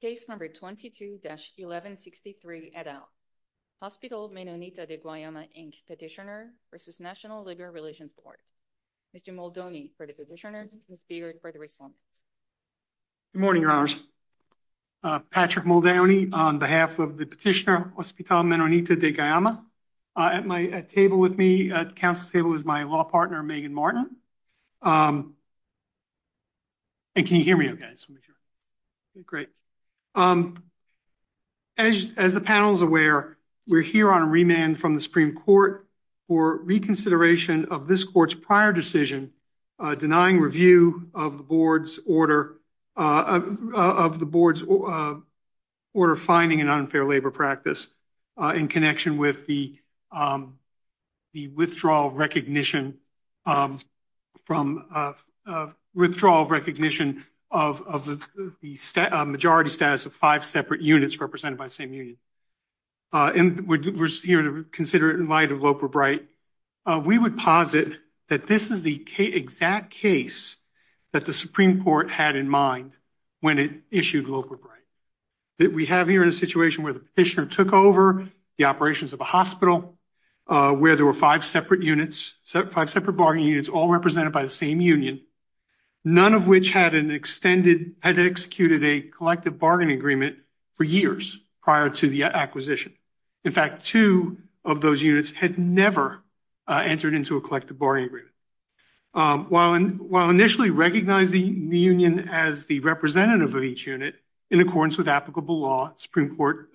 Case number 22-1163, et al. Hospital Menonita de Guayama, Inc. Petitioner v. National Liberal Relations Board. Mr. Moldoni for the petitioner, Ms. Beard for the respondent. Good morning, Your Honors. Patrick Moldoni on behalf of the petitioner Hospital Menonita de Guayama. At my table with me, at the council table, is my law partner, Megan Martin. And can you hear me okay? Great. As the panel is aware, we're here on remand from the Supreme Court for reconsideration of this court's prior decision denying review of the board's order, of the board's order fining an unfair labor practice in connection with the withdrawal of recognition of the majority status of five separate units represented by the same union. And we're here to consider it in light of Loper Bright. We would posit that this is the exact case that the Supreme Court had in mind when it issued Loper Bright. That we have here in a situation where the petitioner took over the operations of a hospital, where there were five separate units, five separate bargaining units all represented by the same union, none of which had an extended, had executed a collective bargaining agreement for years prior to the acquisition. In fact, two of those units had never entered into a collective bargaining agreement. While initially recognizing the union as the representative of each unit in accordance with applicable law, Supreme Court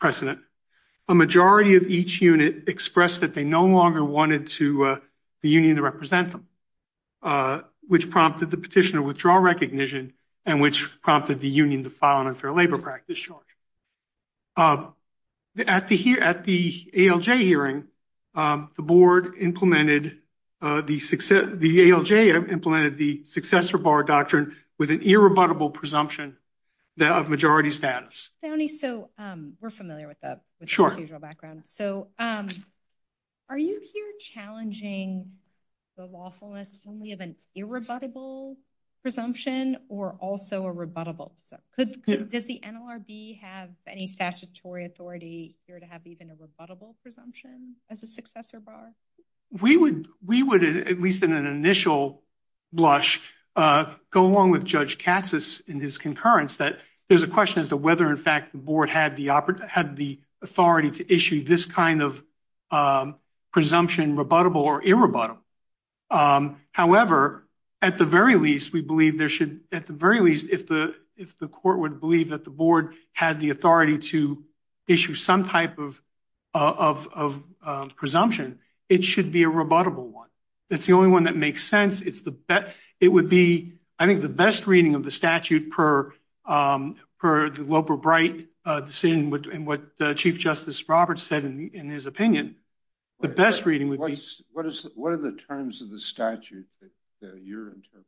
precedent, a majority of each unit expressed that they no longer wanted the union to represent them, which prompted the petitioner to withdraw recognition and which prompted the union to file an unfair labor practice charge. At the ALJ hearing, the board implemented, the ALJ implemented the successor bar doctrine with an irrebuttable presumption of majority status. Tony, so we're familiar with the procedural background. So are you here challenging the lawfulness only of an irrebuttable presumption or also a rebuttable? Does the NLRB have any statutory authority here to have even a rebuttable presumption as a successor bar? We would, at least in an initial blush, go along with Judge Katsas in his concurrence that there's a question as to whether in fact the board had the authority to issue this kind of presumption rebuttable or irrebuttable. However, at the very least, we believe there should, at the very least, if the court would believe that the board had the authority to issue some type of of presumption, it should be a rebuttable one. It's the only one that makes sense. It's the best, it would be, I think the best reading of the statute per the Loper-Bright decision and what Chief Justice Roberts said in his opinion, the best reading would be... What is, what are the terms of the statute that you're interpreting?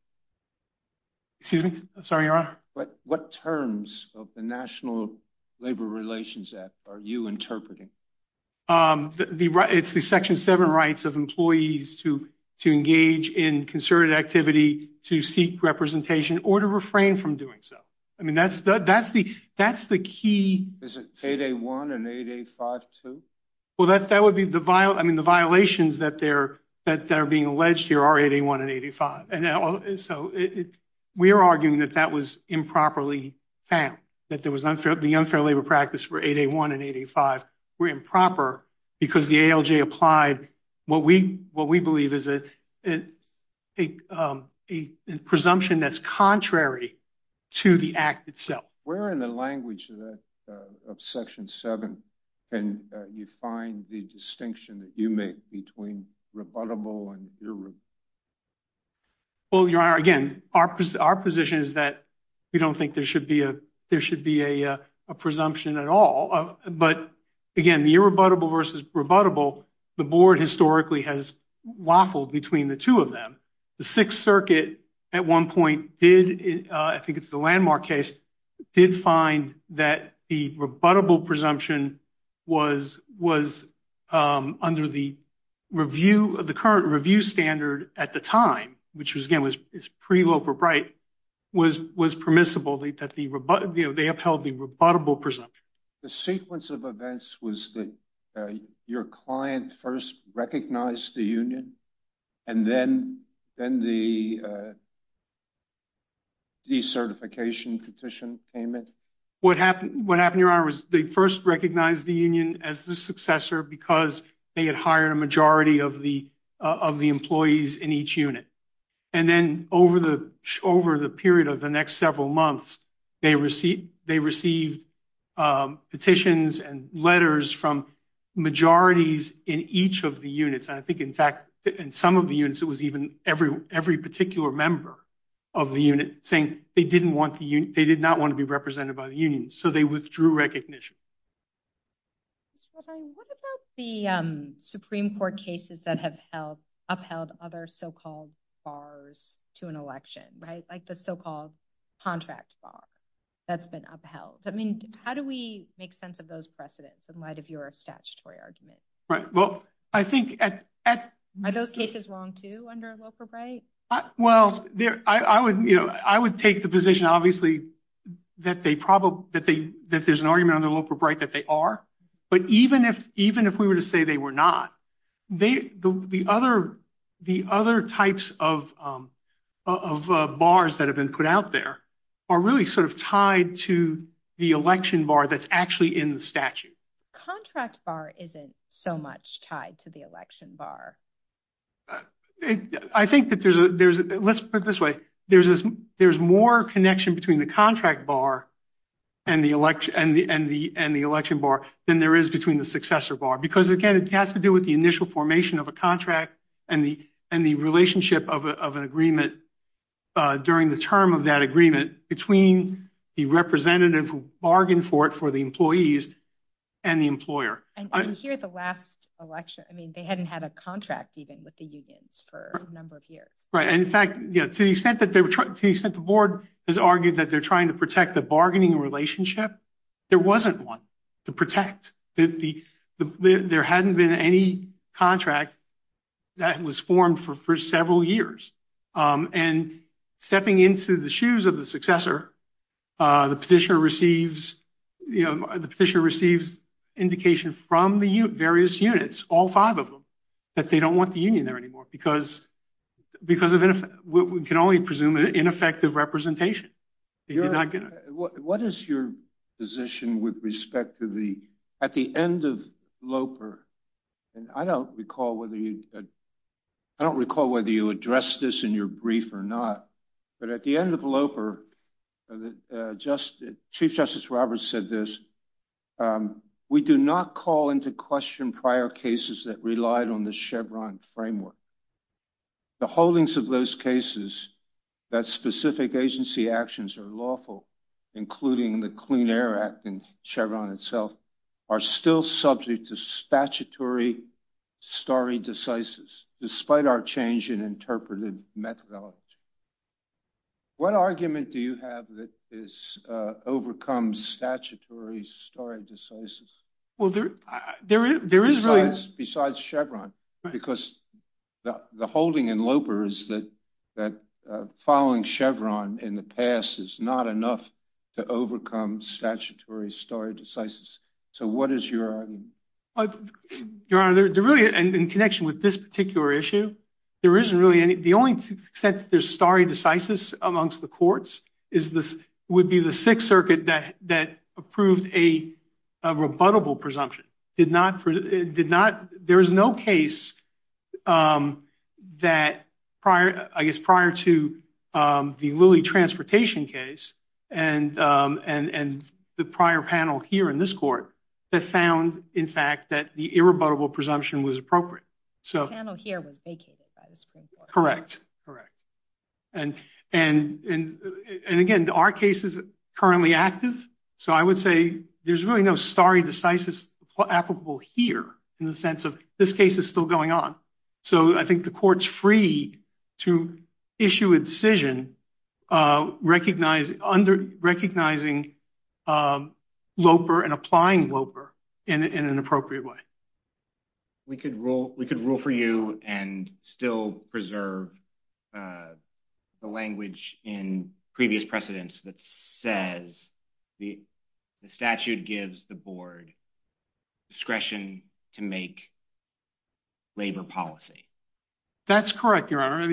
Excuse me? Sorry, Your Honor. What terms of the National Labor Relations Act are you interpreting? It's the Section 7 rights of employees to engage in concerted activity to seek representation or to refrain from doing so. I mean, that's the key... Is it 8A1 and 8A5 too? Well, that would be the violation, I mean, the violations that are being alleged here are 8A1 and 8A5. And so we are arguing that that was improperly found, that the unfair labor practice for 8A1 and 8A5 were improper because the ALJ applied what we believe is a presumption that's contrary to the act itself. Where in the language of Section 7 can you find the distinction that you make between rebuttable and irrebuttable? Well, Your Honor, again, our position is that we don't think there should be a, there should be a presumption at all. But again, the irrebuttable versus rebuttable, the board historically has waffled between the two of them. The Sixth Circuit at one point did, I think it's the Landmark case, did find that the rebuttable presumption was under the review, the current review standard at the time, which was again, was pre-Loeb or Bright, was permissible, that they upheld the rebuttable presumption. The sequence of events was that your client first recognized the union and then the decertification petition came in? What happened, Your Honor, was they first recognized the union as the successor because they had hired a majority of the employees in each unit. And then over the period of the next months, they received petitions and letters from majorities in each of the units. And I think, in fact, in some of the units, it was even every particular member of the unit saying they did not want to be represented by the union. So they withdrew recognition. What about the Supreme Court cases that have upheld other so-called bars to an election, like the so-called contract bar that's been upheld? I mean, how do we make sense of those precedents in light of your statutory argument? Right. Well, I think... Are those cases wrong too under Loeb or Bright? Well, I would take the position, obviously, that there's an argument under Loeb or Bright that they are. But even if we were to say they were not, the other types of bars that have been put out there are really sort of tied to the election bar that's actually in the statute. Contract bar isn't so much tied to the election bar. I think that there's... Let's put it this way. There's more connection between the contract bar and the election bar than there is between the successor bar. Because again, it has to do with the initial formation of a contract and the relationship of an agreement during the term of that agreement between the representative who bargained for it for the employees and the employer. And here at the last election, I mean, they hadn't had a contract even with the unions for a number of years. Right. And in fact, to the extent that the board has argued that they're trying to protect the bargaining relationship, there wasn't one to protect. There hadn't been any contract that was formed for several years. And stepping into the shoes of the successor, the petitioner receives indication from the various units, all five of them, that they don't presume an ineffective representation. What is your position with respect to the... At the end of LOPR, and I don't recall whether you addressed this in your brief or not, but at the end of LOPR, Chief Justice Roberts said this, we do not call into question prior cases that relied on the Chevron framework. The holdings of those cases that specific agency actions are lawful, including the Clean Air Act and Chevron itself, are still subject to statutory stare decisis despite our change in interpreted methodology. What argument do you have that this overcomes statutory stare decisis? Besides Chevron, because the holding in LOPR is that following Chevron in the past is not enough to overcome statutory stare decisis. So what is your argument? Your Honor, in connection with this particular issue, the only extent that there's stare decisis amongst the courts would be the Sixth Circuit that approved a rebuttable presumption. There is no case that, I guess, prior to the Lilly transportation case and the prior panel here in this court that found, in fact, that the irrebuttable presumption was appropriate. The panel here was vacated by the Supreme Court. Correct, correct. And again, our case is currently active, so I would say there's really no stare decisis applicable here in the sense of this case is still going on. So I think the court's free to issue a decision recognizing LOPR and applying LOPR in an appropriate way. We could rule for you and still preserve the language in previous precedents that says the statute gives the board discretion to make labor policy. That's correct, Your Honor.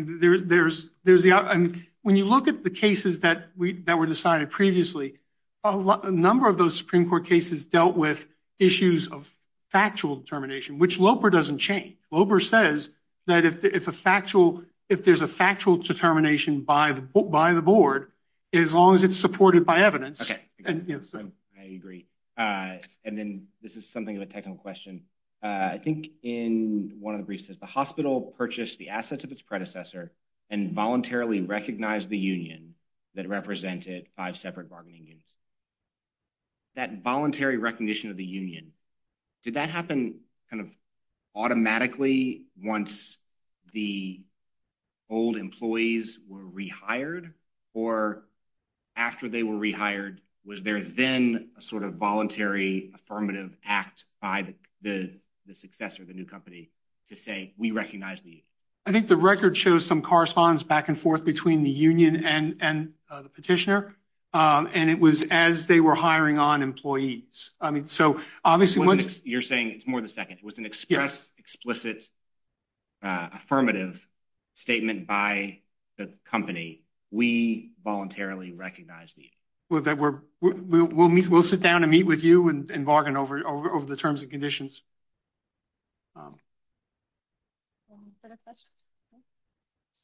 When you look at the cases that were decided previously, a number of those Supreme Court cases dealt with issues of factual determination, which LOPR doesn't change. LOPR says that if there's a factual determination by the board, as long as it's supported by evidence. Okay, I agree. And then this is something of a technical question. I think in one of the briefs, it says the hospital purchased the assets of its predecessor and voluntarily recognized the union that represented five separate bargaining units. That voluntary recognition of the union, did that happen kind of automatically once the old employees were rehired? Or after they were rehired, was there then a sort of voluntary affirmative act by the successor of the new company to say, we recognize the union? I think the record shows some correspondence back and forth between the union and the petitioner. And it was as they were hiring on employees. I mean, so obviously, you're saying it's more the second. It was an express, explicit, affirmative statement by the company. We voluntarily recognized the union. We'll sit down and meet with you and bargain over the terms and conditions.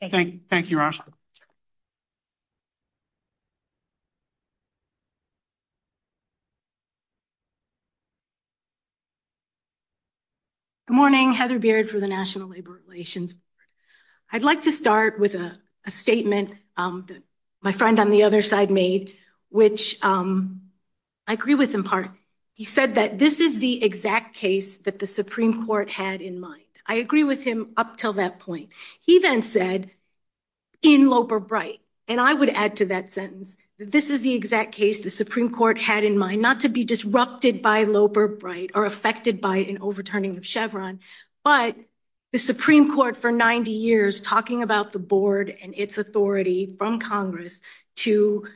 Thank you. Thank you, Rasha. Good morning, Heather Beard for the National Labor Relations Board. I'd like to start with a statement that my friend on the other side made, which I agree with in part. He said that this is the exact case that the Supreme Court had in mind. I agree with him up till that point. He then said, in Loeb or Bright, and I would add to that sentence, this is the exact case the Supreme Court had in mind not to be disrupted by Loeb or Bright or affected by an overturning of Chevron, but the Supreme Court for 90 years talking about the board and its authority from Congress to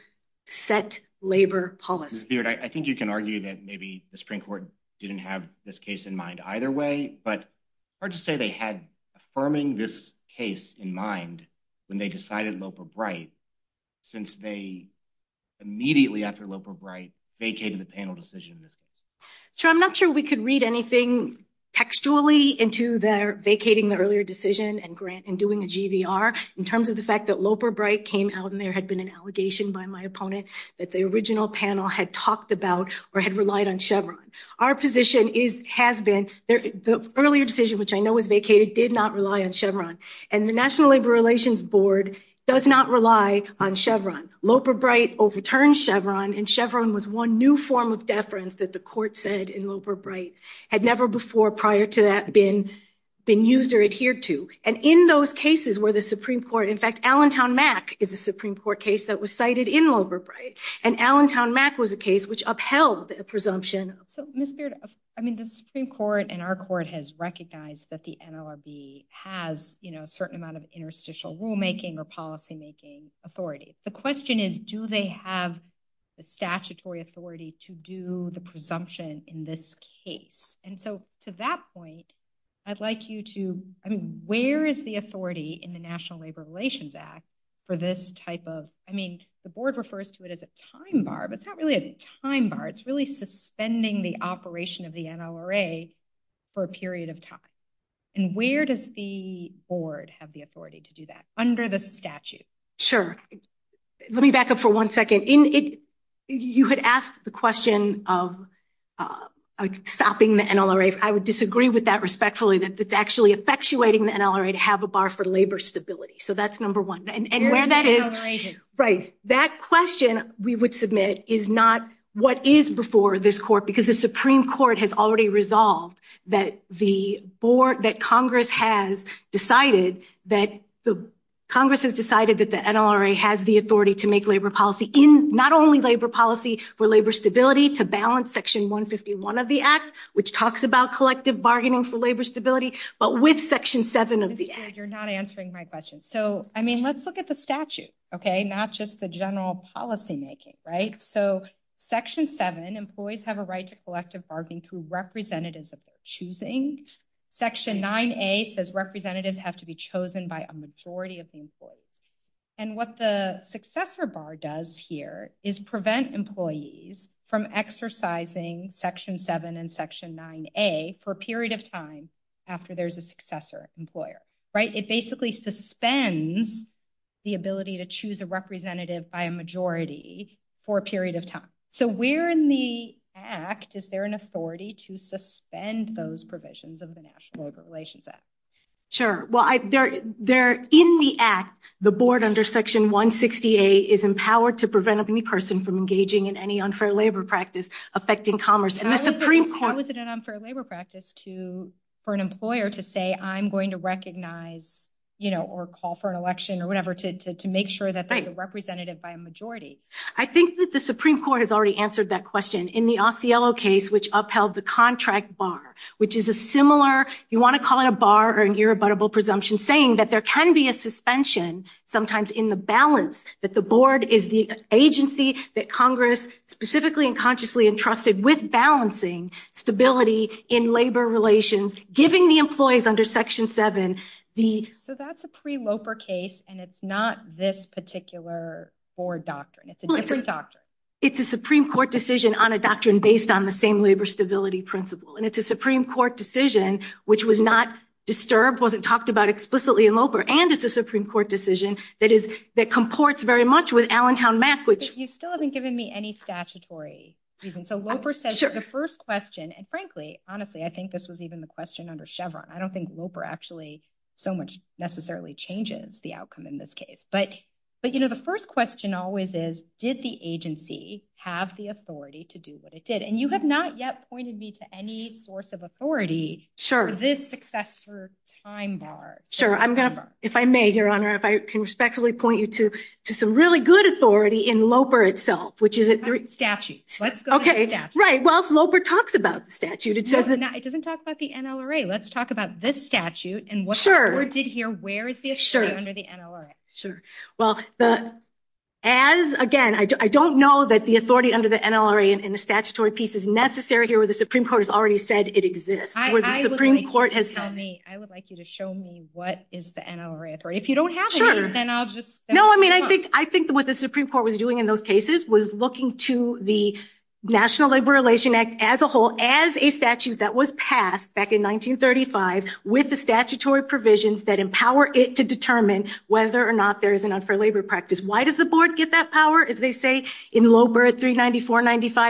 set labor policy. I think you can argue that maybe the Supreme Court didn't have this case in mind either way, but hard to say they had affirming this case in mind when they decided Loeb or Bright since they immediately after Loeb or Bright vacated the panel decision. I'm not sure we could read anything textually into their vacating the earlier decision and grant and doing a GVR in terms of the fact that Loeb or Bright came out and there had been an allegation by my opponent that the original panel had talked about or had relied on Chevron. Our position has been the earlier decision, which I know was vacated, did not rely on Chevron. And the National Labor Relations Board does not rely on Chevron. Loeb or Bright overturned Chevron and Chevron was one new form of deference that the court said in Loeb or Bright had never before prior to that been used or adhered to. And in those cases where the Supreme Court, in fact, and Allentown Mack was a case which upheld the presumption. So Ms. Beard, I mean, the Supreme Court and our court has recognized that the NLRB has a certain amount of interstitial rulemaking or policymaking authority. The question is, do they have the statutory authority to do the presumption in this case? And so to that point, I'd like you to, I mean, where is the authority in the National Labor Relations Act for this type of, I mean, the board refers to it as a time bar, but it's not really a time bar. It's really suspending the operation of the NLRA for a period of time. And where does the board have the authority to do that under the statute? Sure. Let me back up for one second. You had asked the question of stopping the NLRA. I would disagree with that respectfully, that it's actually effectuating the NLRA to have a bar for labor stability. So that's number one. And where that is, right, that question we would submit is not what is before this court, because the Supreme Court has already resolved that the board that Congress has decided that the Congress has decided that the NLRA has the authority to make labor policy in not only labor policy for labor stability to balance section 151 of the act, which talks about collective bargaining for labor stability, but with section seven of the act. You're not answering my question. So, I mean, let's look at the statute, okay? Not just the general policymaking, right? So section seven, employees have a right to collective bargaining through representatives of their choosing. Section 9A says representatives have to be chosen by a majority of the employees. And what the successor bar does here is prevent employees from exercising section seven and 9A for a period of time after there's a successor employer, right? It basically suspends the ability to choose a representative by a majority for a period of time. So where in the act is there an authority to suspend those provisions of the National Labor Relations Act? Sure. Well, in the act, the board under section 160A is empowered to prevent any person from engaging in any unfair labor practice affecting commerce. How is it an unfair labor practice for an employer to say, I'm going to recognize or call for an election or whatever to make sure that there's a representative by a majority? I think that the Supreme Court has already answered that question in the Osceolo case, which upheld the contract bar, which is a similar, you want to call it a bar or an irrebuttable presumption, saying that there can be a suspension sometimes in the balance, that the board is the agency that Congress specifically and consciously entrusted with balancing stability in labor relations, giving the employees under section seven the... So that's a pre-Loper case, and it's not this particular board doctrine. It's a different doctrine. It's a Supreme Court decision on a doctrine based on the same labor stability principle. And it's a Supreme Court decision, which was not disturbed, wasn't talked about explicitly in Loper, and it's a Supreme Court decision that comports very much with Allentown map, which... You still haven't given me any statutory reason. So Loper says the first question, and frankly, honestly, I think this was even the question under Chevron. I don't think Loper actually so much necessarily changes the outcome in this case. But the first question always is, did the agency have the authority to do what it did? And you have not yet pointed me to any source of authority for this successor time bar. Sure. I'm going to... If I may, Your Honor, if I can respectfully point you to some really good authority in Loper itself, which is... Statute. Let's go to the statute. Right. Well, Loper talks about the statute. It says that... It doesn't talk about the NLRA. Let's talk about this statute and what the court did here. Where is the authority under the NLRA? Sure. Well, as again, I don't know that the authority under the statutory piece is necessary here where the Supreme Court has already said it exists. I would like you to show me what is the NLRA authority. If you don't have it, then I'll just... No, I mean, I think what the Supreme Court was doing in those cases was looking to the National Labor Relations Act as a whole as a statute that was passed back in 1935 with the statutory provisions that empower it to determine whether or not there is an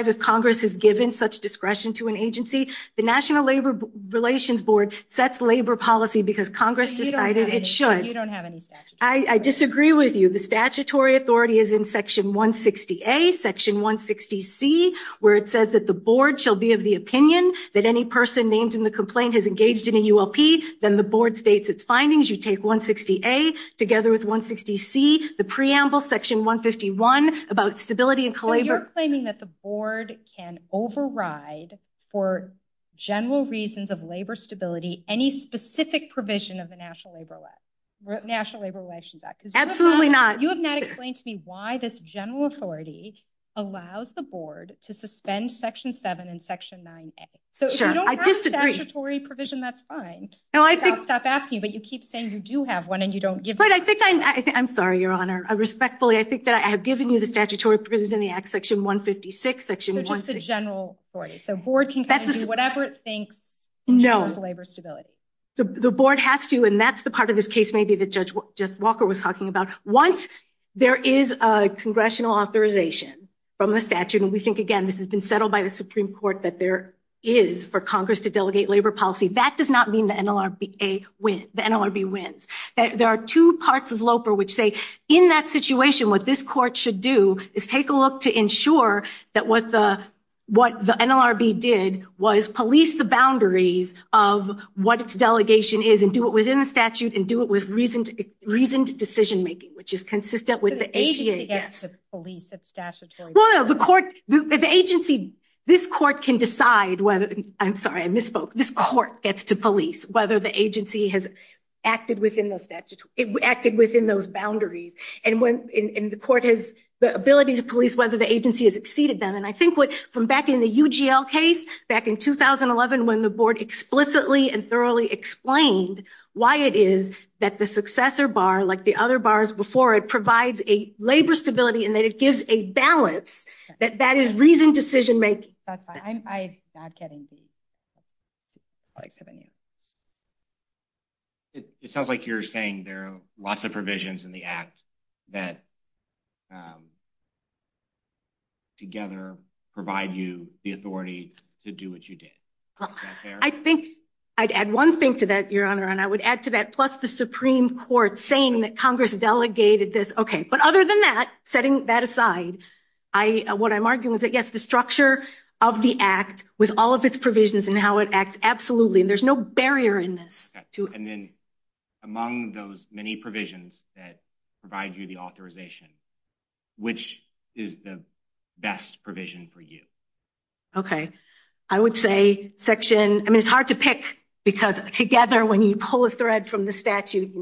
if Congress has given such discretion to an agency. The National Labor Relations Board sets labor policy because Congress decided it should. You don't have any statute. I disagree with you. The statutory authority is in Section 160A, Section 160C, where it says that the board shall be of the opinion that any person named in the complaint has engaged in a ULP. Then the board states its findings. You take 160A together with 160C, the preamble, Section 151, about stability and... So you're claiming that the board can override, for general reasons of labor stability, any specific provision of the National Labor Relations Act? Absolutely not. You have not explained to me why this general authority allows the board to suspend Section 7 and Section 9A. So if you don't have a statutory provision, that's fine. I'll stop asking you, but you keep saying you do have one and you don't give... I'm sorry, Your Honor. Respectfully, I think that I have given you the statutory provisions in the Act, Section 156, Section 160. So just the general authority. So the board can kind of do whatever it thinks ensures labor stability. No. The board has to, and that's the part of this case maybe that Judge Walker was talking about. Once there is a congressional authorization from the statute, and we think, again, this has been settled by the Supreme Court that there is for Congress to delegate labor policy, that does not mean the NLRB wins. There are two parts of LOPR which say, in that situation, what this court should do is take a look to ensure that what the NLRB did was police the boundaries of what its delegation is and do it within the statute and do it with reasoned decision-making, which is consistent with the APA. So the agency gets to police its statutory... No, no, no. The agency... This court can decide whether... I'm sorry, I misspoke. This court gets to police whether the agency has acted within those boundaries. And the court has the ability to police whether the agency has exceeded them. And I think what, from back in the UGL case, back in 2011, when the board explicitly and thoroughly explained why it is that the successor bar, like the other bars before it, provides a labor stability and that it gives a balance, that that is reasoned decision-making. That's fine. I'm not getting the... I'll accept any... It sounds like you're saying there are lots of provisions in the act that together provide you the authority to do what you did. Is that fair? I think I'd add one thing to that, Your Honor, and I would add to that, plus the Supreme Court saying that Congress delegated this. Okay. But other than that, setting that aside, what I'm arguing is that, yes, the structure of the act with all of its provisions and how it acts, absolutely. And there's no barrier in this to... And then among those many provisions that provide you the authorization, which is the best provision for you? Okay. I would say section... I mean, it's hard to pick because together, when you pull a thread from the statute,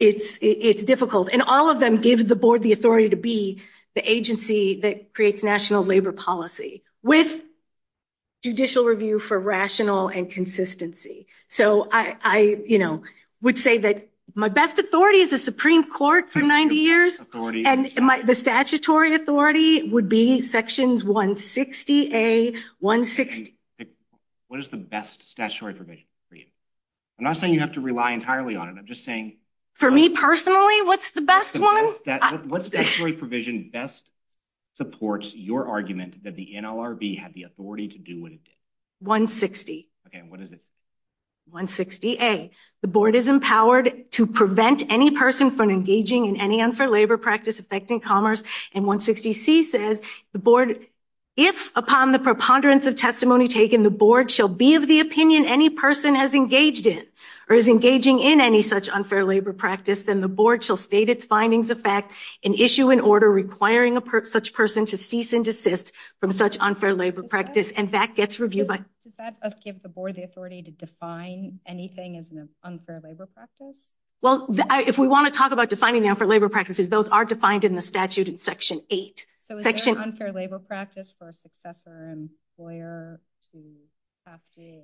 it's difficult. And all of them give the board the authority to be the agency that creates national labor policy with judicial review for rational and consistency. So I would say that my best authority is the Supreme Court for 90 years, and the statutory authority would be sections 160A, 160... What is the best statutory provision for you? I'm not saying you have to rely entirely on it. I'm just saying... For me personally, what's the best one? What statutory provision best supports your argument that the NLRB had the authority to do what it did? 160. Okay. And what does it say? 160A, the board is empowered to prevent any person from engaging in any unfair labor practice affecting commerce. And 160C says, the board, if upon the preponderance of testimony taken, the board shall be of the opinion any person has engaged in or is engaging in any such unfair labor practice, then the board shall state its findings of fact and issue an order requiring such person to cease and desist from such unfair labor practice. And that gets reviewed by... Does that give the board the authority to define anything as an unfair labor practice? Well, if we want to talk about defining the unfair labor practices, those are defined in the statute in section 8. So is there an unfair labor practice for a successor employer to have to...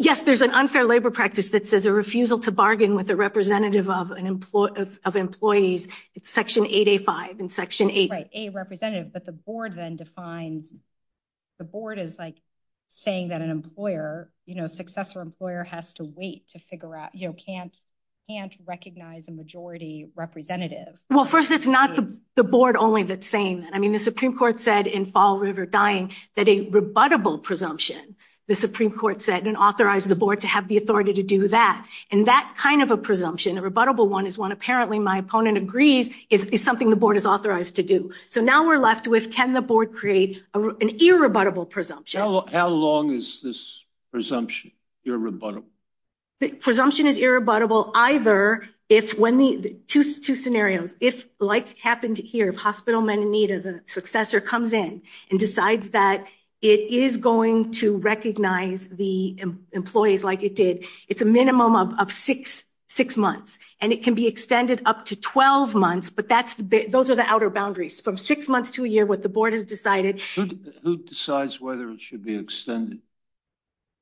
Yes, there's an unfair labor practice that says a refusal to bargain with a representative of of employees, it's section 8A5 in section 8. Right, a representative, but the board then defines... The board is like saying that an employer, you know, successor employer has to wait to figure out, you know, can't recognize a majority representative. Well, first, it's not the board only that's saying that. I mean, the Supreme Court said in Fall River Dying that a rebuttable presumption, the Supreme Court said and authorized the board to have the authority to do that. And that kind of a presumption, a rebuttable one, is one apparently my opponent agrees is something the board is authorized to do. So now we're left with can the board create an irrebuttable presumption? How long is this presumption irrebuttable? The presumption is irrebuttable either if when the two scenarios, if like happened here, if hospital men in need of a successor comes in and decides that it is going to recognize the employees like it did, it's a minimum of six months. And it can be extended up to 12 months, but those are the outer boundaries. From six months to a year, what the board has decided... Who decides whether it should be extended?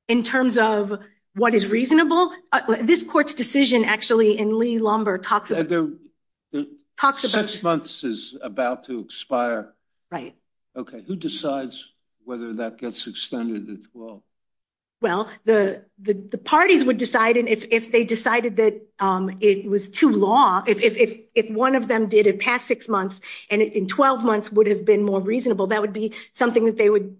In terms of what is reasonable, this court's decision actually in Lee-Lomber talks... Six months is about to expire. Right. Okay. Who decides whether that gets extended at 12? Well, the parties would decide if they decided that it was too law, if one of them did it past six months and in 12 months would have been more reasonable, that would be something that they would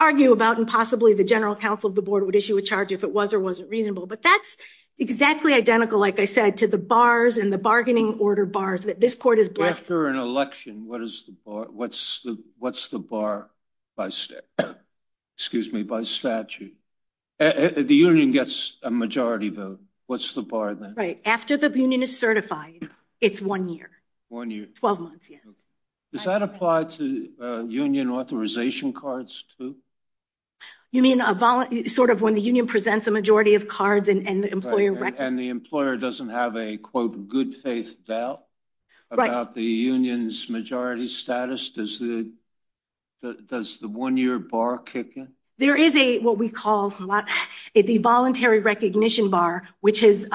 argue about. And possibly the general counsel of the board would issue a charge if it was or wasn't reasonable. But that's exactly identical, like I said, to the bars and the bargaining order bars that this court is blessed... After an election, what's the bar by statute? The union gets a majority vote. What's the bar then? Right. After the union is certified, it's one year. One year. 12 months. Does that apply to union authorization cards too? You mean when the union presents a majority of cards and the employer records... The employer doesn't have a, quote, good faith doubt about the union's majority status? Does the one-year bar kick in? There is what we call the voluntary recognition bar, which is...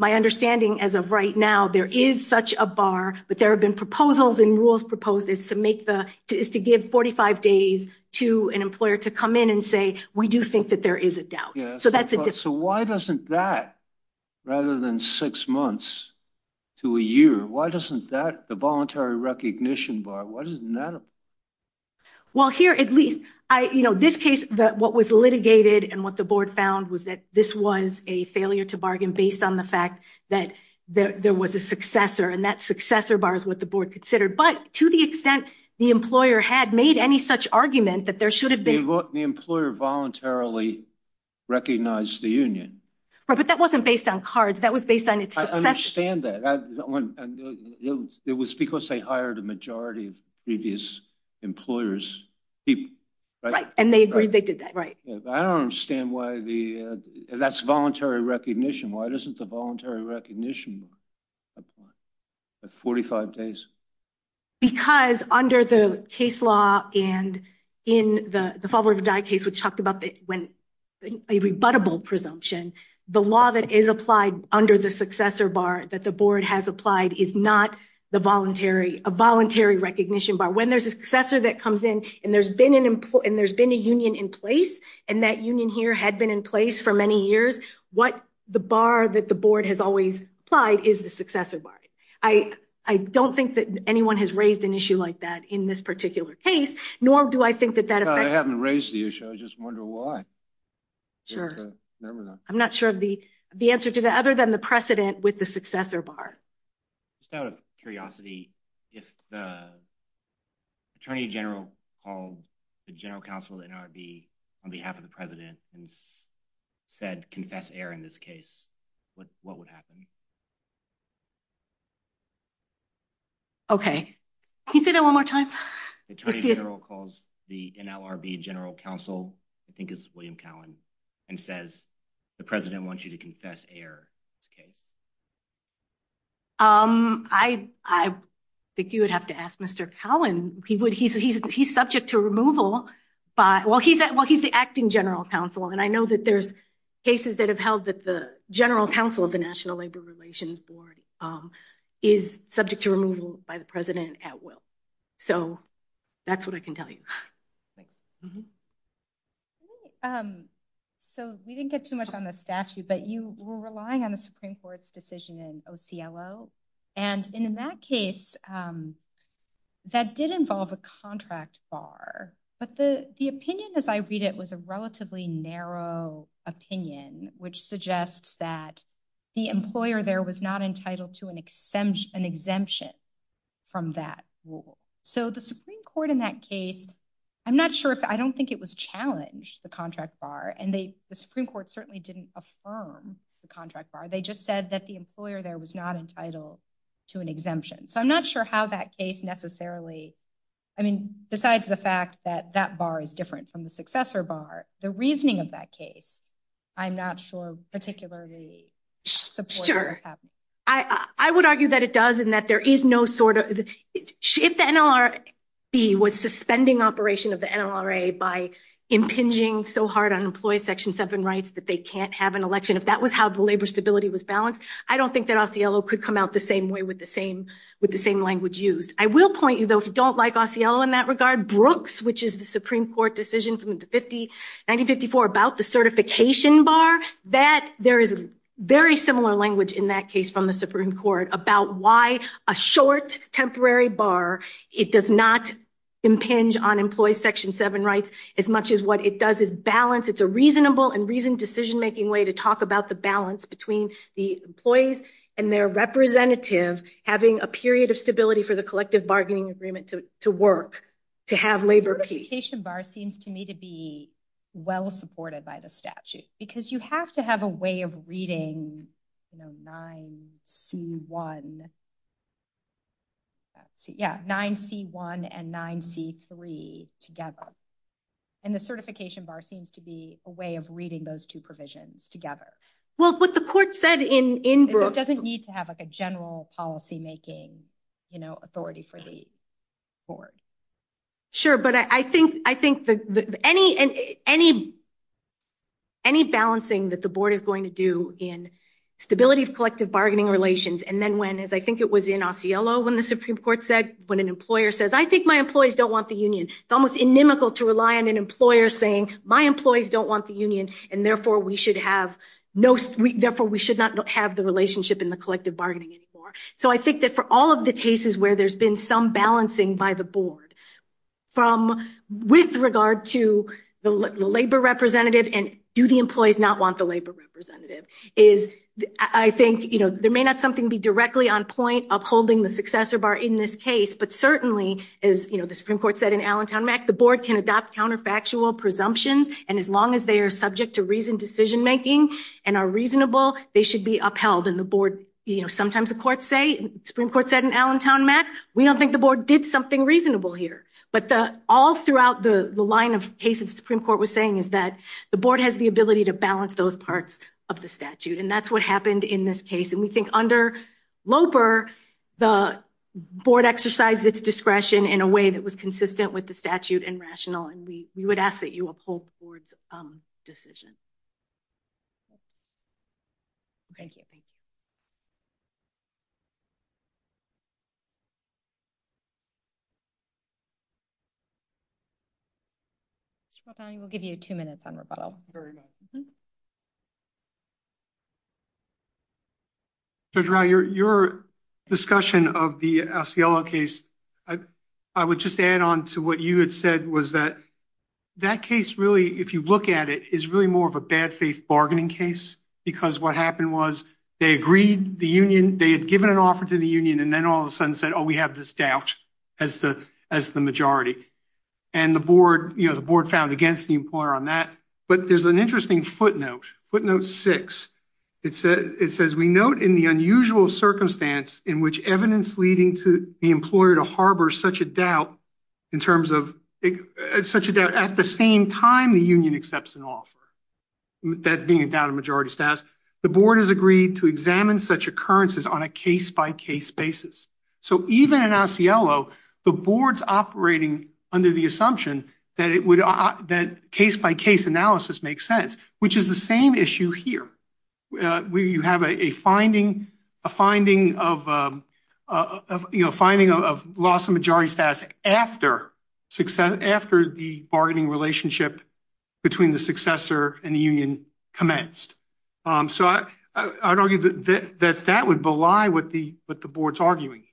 My understanding as of right now, there is such a bar, but there have been proposals and rules proposed to give 45 days to an employer to come in and say, we do think that there is a doubt. So that's a difference. So why doesn't that, rather than six months to a year, why doesn't that, the voluntary recognition bar, why doesn't that apply? Well, here, at least, this case, what was litigated and what the board found was that this was a failure to bargain based on the fact that there was a successor and that successor bar is what the board considered. But to the extent the employer had made any such argument that there should have been... The employer voluntarily recognized the union. Right, but that wasn't based on cards. That was based on its successor. I understand that. It was because they hired a majority of previous employers. Right, and they agreed they did that, right. I don't understand why the... That's voluntary recognition. Why doesn't the voluntary recognition apply at 45 days? Because under the case law and in the Fall River Dye case, which talked about a rebuttable presumption, the law that is applied under the successor bar that the board has applied is not a voluntary recognition bar. When there's a successor that comes in and there's been a union in place and that union here had been in place for many years, what the bar that the board has always applied is the successor bar. I don't think that anyone has raised an issue like that in this particular case, nor do I think that that... I haven't raised the issue. I just wonder why. Sure. I'm not sure of the answer to that other than the precedent with the successor bar. Just out of curiosity, if the Attorney General called the General Counsel at NRB on behalf of the President and said, confess error in this case, what would happen? Okay. Can you say that one more time? The Attorney General calls the NRB General Counsel, I think it's William Cowan, and says, the President wants you to confess error in this case. I think you would have to ask Mr. Cowan. He's subject to removal by... Well, he's the acting General Counsel, and I know that there's cases that have held that the General Counsel of the National Labor Relations Board is subject to removal by the President at will. That's what I can tell you. We didn't get too much on the statute, but you were relying on the Supreme Court's decision in OCLO. In that case, that did involve a contract bar, but the opinion as I read it was a relatively narrow opinion, which suggests that the employer there was not entitled to an exemption from that rule. The Supreme Court in that case, I'm not sure if... I don't think it was challenged, the contract bar, and the Supreme Court certainly didn't affirm the contract bar. They just said that the employer there was not entitled to an exemption. So I'm not sure how that case necessarily... I mean, besides the fact that that bar is different from the successor bar, the reasoning of that case, I'm not sure particularly supports what's happening. Sure. I would argue that it does and that there is no sort of... If the NLRB was suspending operation of the NLRA by impinging so hard on employee Section 7 rights that they can't have an election, if that was how the labor stability was balanced, I don't think that OCLO could come out the same way with the same language used. I will point you though, if you don't like OCLO in that regard, Brooks, which is the Supreme Court decision from 1954 about the certification bar, that there is very similar language in that case from the Supreme Court about why a short temporary bar, it does not impinge on employee Section 7 rights as much as what it does is balance. It's a reasonable and reasoned decision-making way to talk about the between the employees and their representative having a period of stability for the collective bargaining agreement to work, to have labor peace. The certification bar seems to me to be well-supported by the statute because you have to have a way of reading 9C1 and 9C3 together. And the certification bar seems to be a way of reading those two provisions together. Well, what the court said in Brooks- It doesn't need to have a general policy-making authority for the board. Sure, but I think any balancing that the board is going to do in stability of collective bargaining relations, and then when, as I think it was in Osceola when the Supreme Court said, when an employer says, I think my employees don't want the union, it's almost inimical to rely on an saying, my employees don't want the union, and therefore we should not have the relationship in the collective bargaining anymore. So I think that for all of the cases where there's been some balancing by the board, with regard to the labor representative and do the employees not want the labor representative, is I think there may not something be directly on point upholding the successor bar in this case, but certainly, as the Supreme Court said in Allentown Mac, the board can adopt counterfactual presumptions, and as long as they are subject to reasoned decision-making and are reasonable, they should be upheld. And the board, sometimes the courts say, Supreme Court said in Allentown Mac, we don't think the board did something reasonable here. But all throughout the line of cases the Supreme Court was saying is that the board has the ability to balance those parts of the statute, and that's what happened in this case. And we think under Loper, the board exercised its discretion in a way that was consistent with the statute and rational, and we would ask that you uphold the board's decision. Thank you, thank you. Mr. Robani, we'll give you two minutes on rebuttal. Very good. Mm-hmm. Judge Rau, your discussion of the Asiello case, I would just add on to what you had said was that that case really, if you look at it, is really more of a bad faith bargaining case, because what happened was they agreed the union, they had given an offer to the union, and then all of a sudden said, oh, we have this doubt as the majority. And the board, found against the employer on that. But there's an interesting footnote, footnote six. It says, we note in the unusual circumstance in which evidence leading to the employer to harbor such a doubt in terms of, such a doubt at the same time the union accepts an offer, that being a doubt of majority status, the board has agreed to examine such occurrences on a case-by-case basis. So even in Asiello, the board's operating under the assumption that it would, that case-by-case analysis makes sense, which is the same issue here, where you have a finding, a finding of, you know, finding of loss of majority status after success, after the bargaining relationship between the successor and the union commenced. So I'd argue that that would belie what the board's arguing.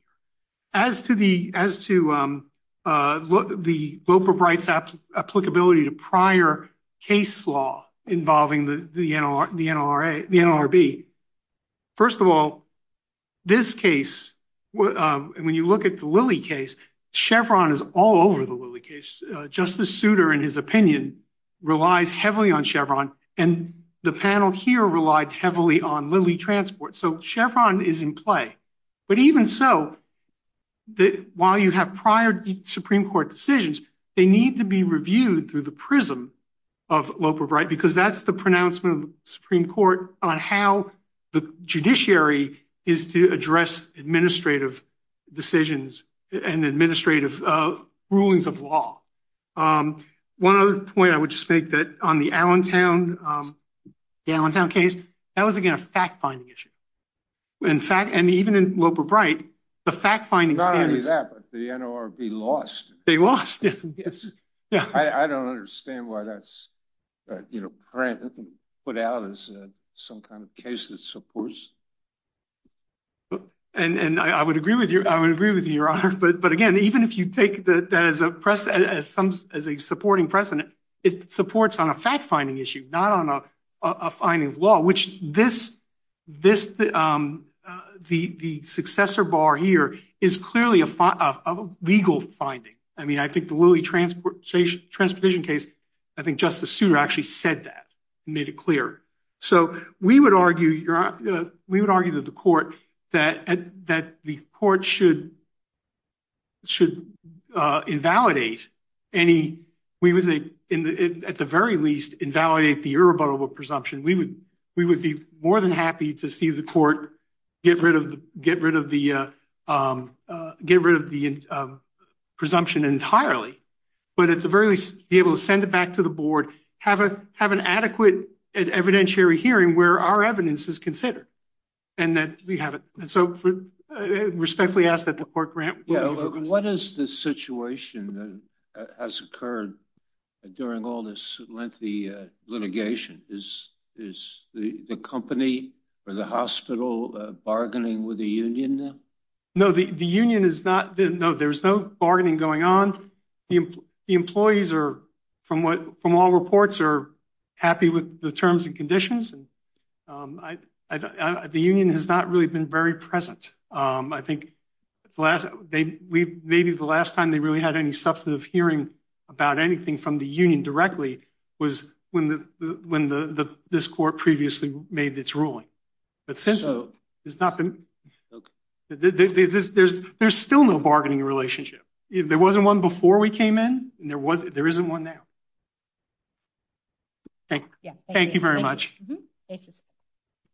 As to the, as to the Loper-Bright's applicability to prior case law involving the NLRB, first of all, this case, when you look at the Lilly case, Chevron is all over the Lilly case. Justice Souter, in his opinion, relies heavily on Chevron, and the panel here relied heavily on Lilly Transport. So Chevron is in play. But even so, while you have prior Supreme Court decisions, they need to be reviewed through the prism of Loper-Bright, because that's the pronouncement of the Supreme Court on how the judiciary is to address administrative decisions and administrative rulings of law. One other point I would just make that on the Allentown, the Allentown case, that was, again, a fact-finding issue. In fact, and even in Loper-Bright, the fact-finding standards— Not only that, but the NLRB lost. They lost, yes. I don't understand why that's, you know, put out as some kind of case that supports. And I would agree with you, I would agree with you, Your Honor. But again, even if you take that as a supporting precedent, it supports on a fact-finding issue, not on a finding of law, which the successor bar here is clearly a legal finding. I mean, I think the Lilly Transportation case, I think Justice Souter actually said that and made it clear. So we would argue, Your Honor, we would argue that the court should invalidate any—we would, at the very least, invalidate the irrebuttable presumption. We would be more than happy to see the court get rid of the presumption entirely, but at the very least, be able to send it back to the board, have an adequate and evidentiary hearing where our evidence is considered, and that we have it. And so respectfully ask that the court grant— What is the situation that has occurred during all this lengthy litigation? Is the company or the hospital bargaining with the union now? No, the union is not—no, there's no bargaining going on. The employees are, from all reports, are happy with the terms and conditions. And the union has not really been very present. I think the last—maybe the last time they really had any substantive hearing about anything from the union directly was when this court previously made its ruling. But since then, it's not been—there's still no bargaining relationship. There wasn't one before we came in, and there isn't one now. Thank you. Thank you very much.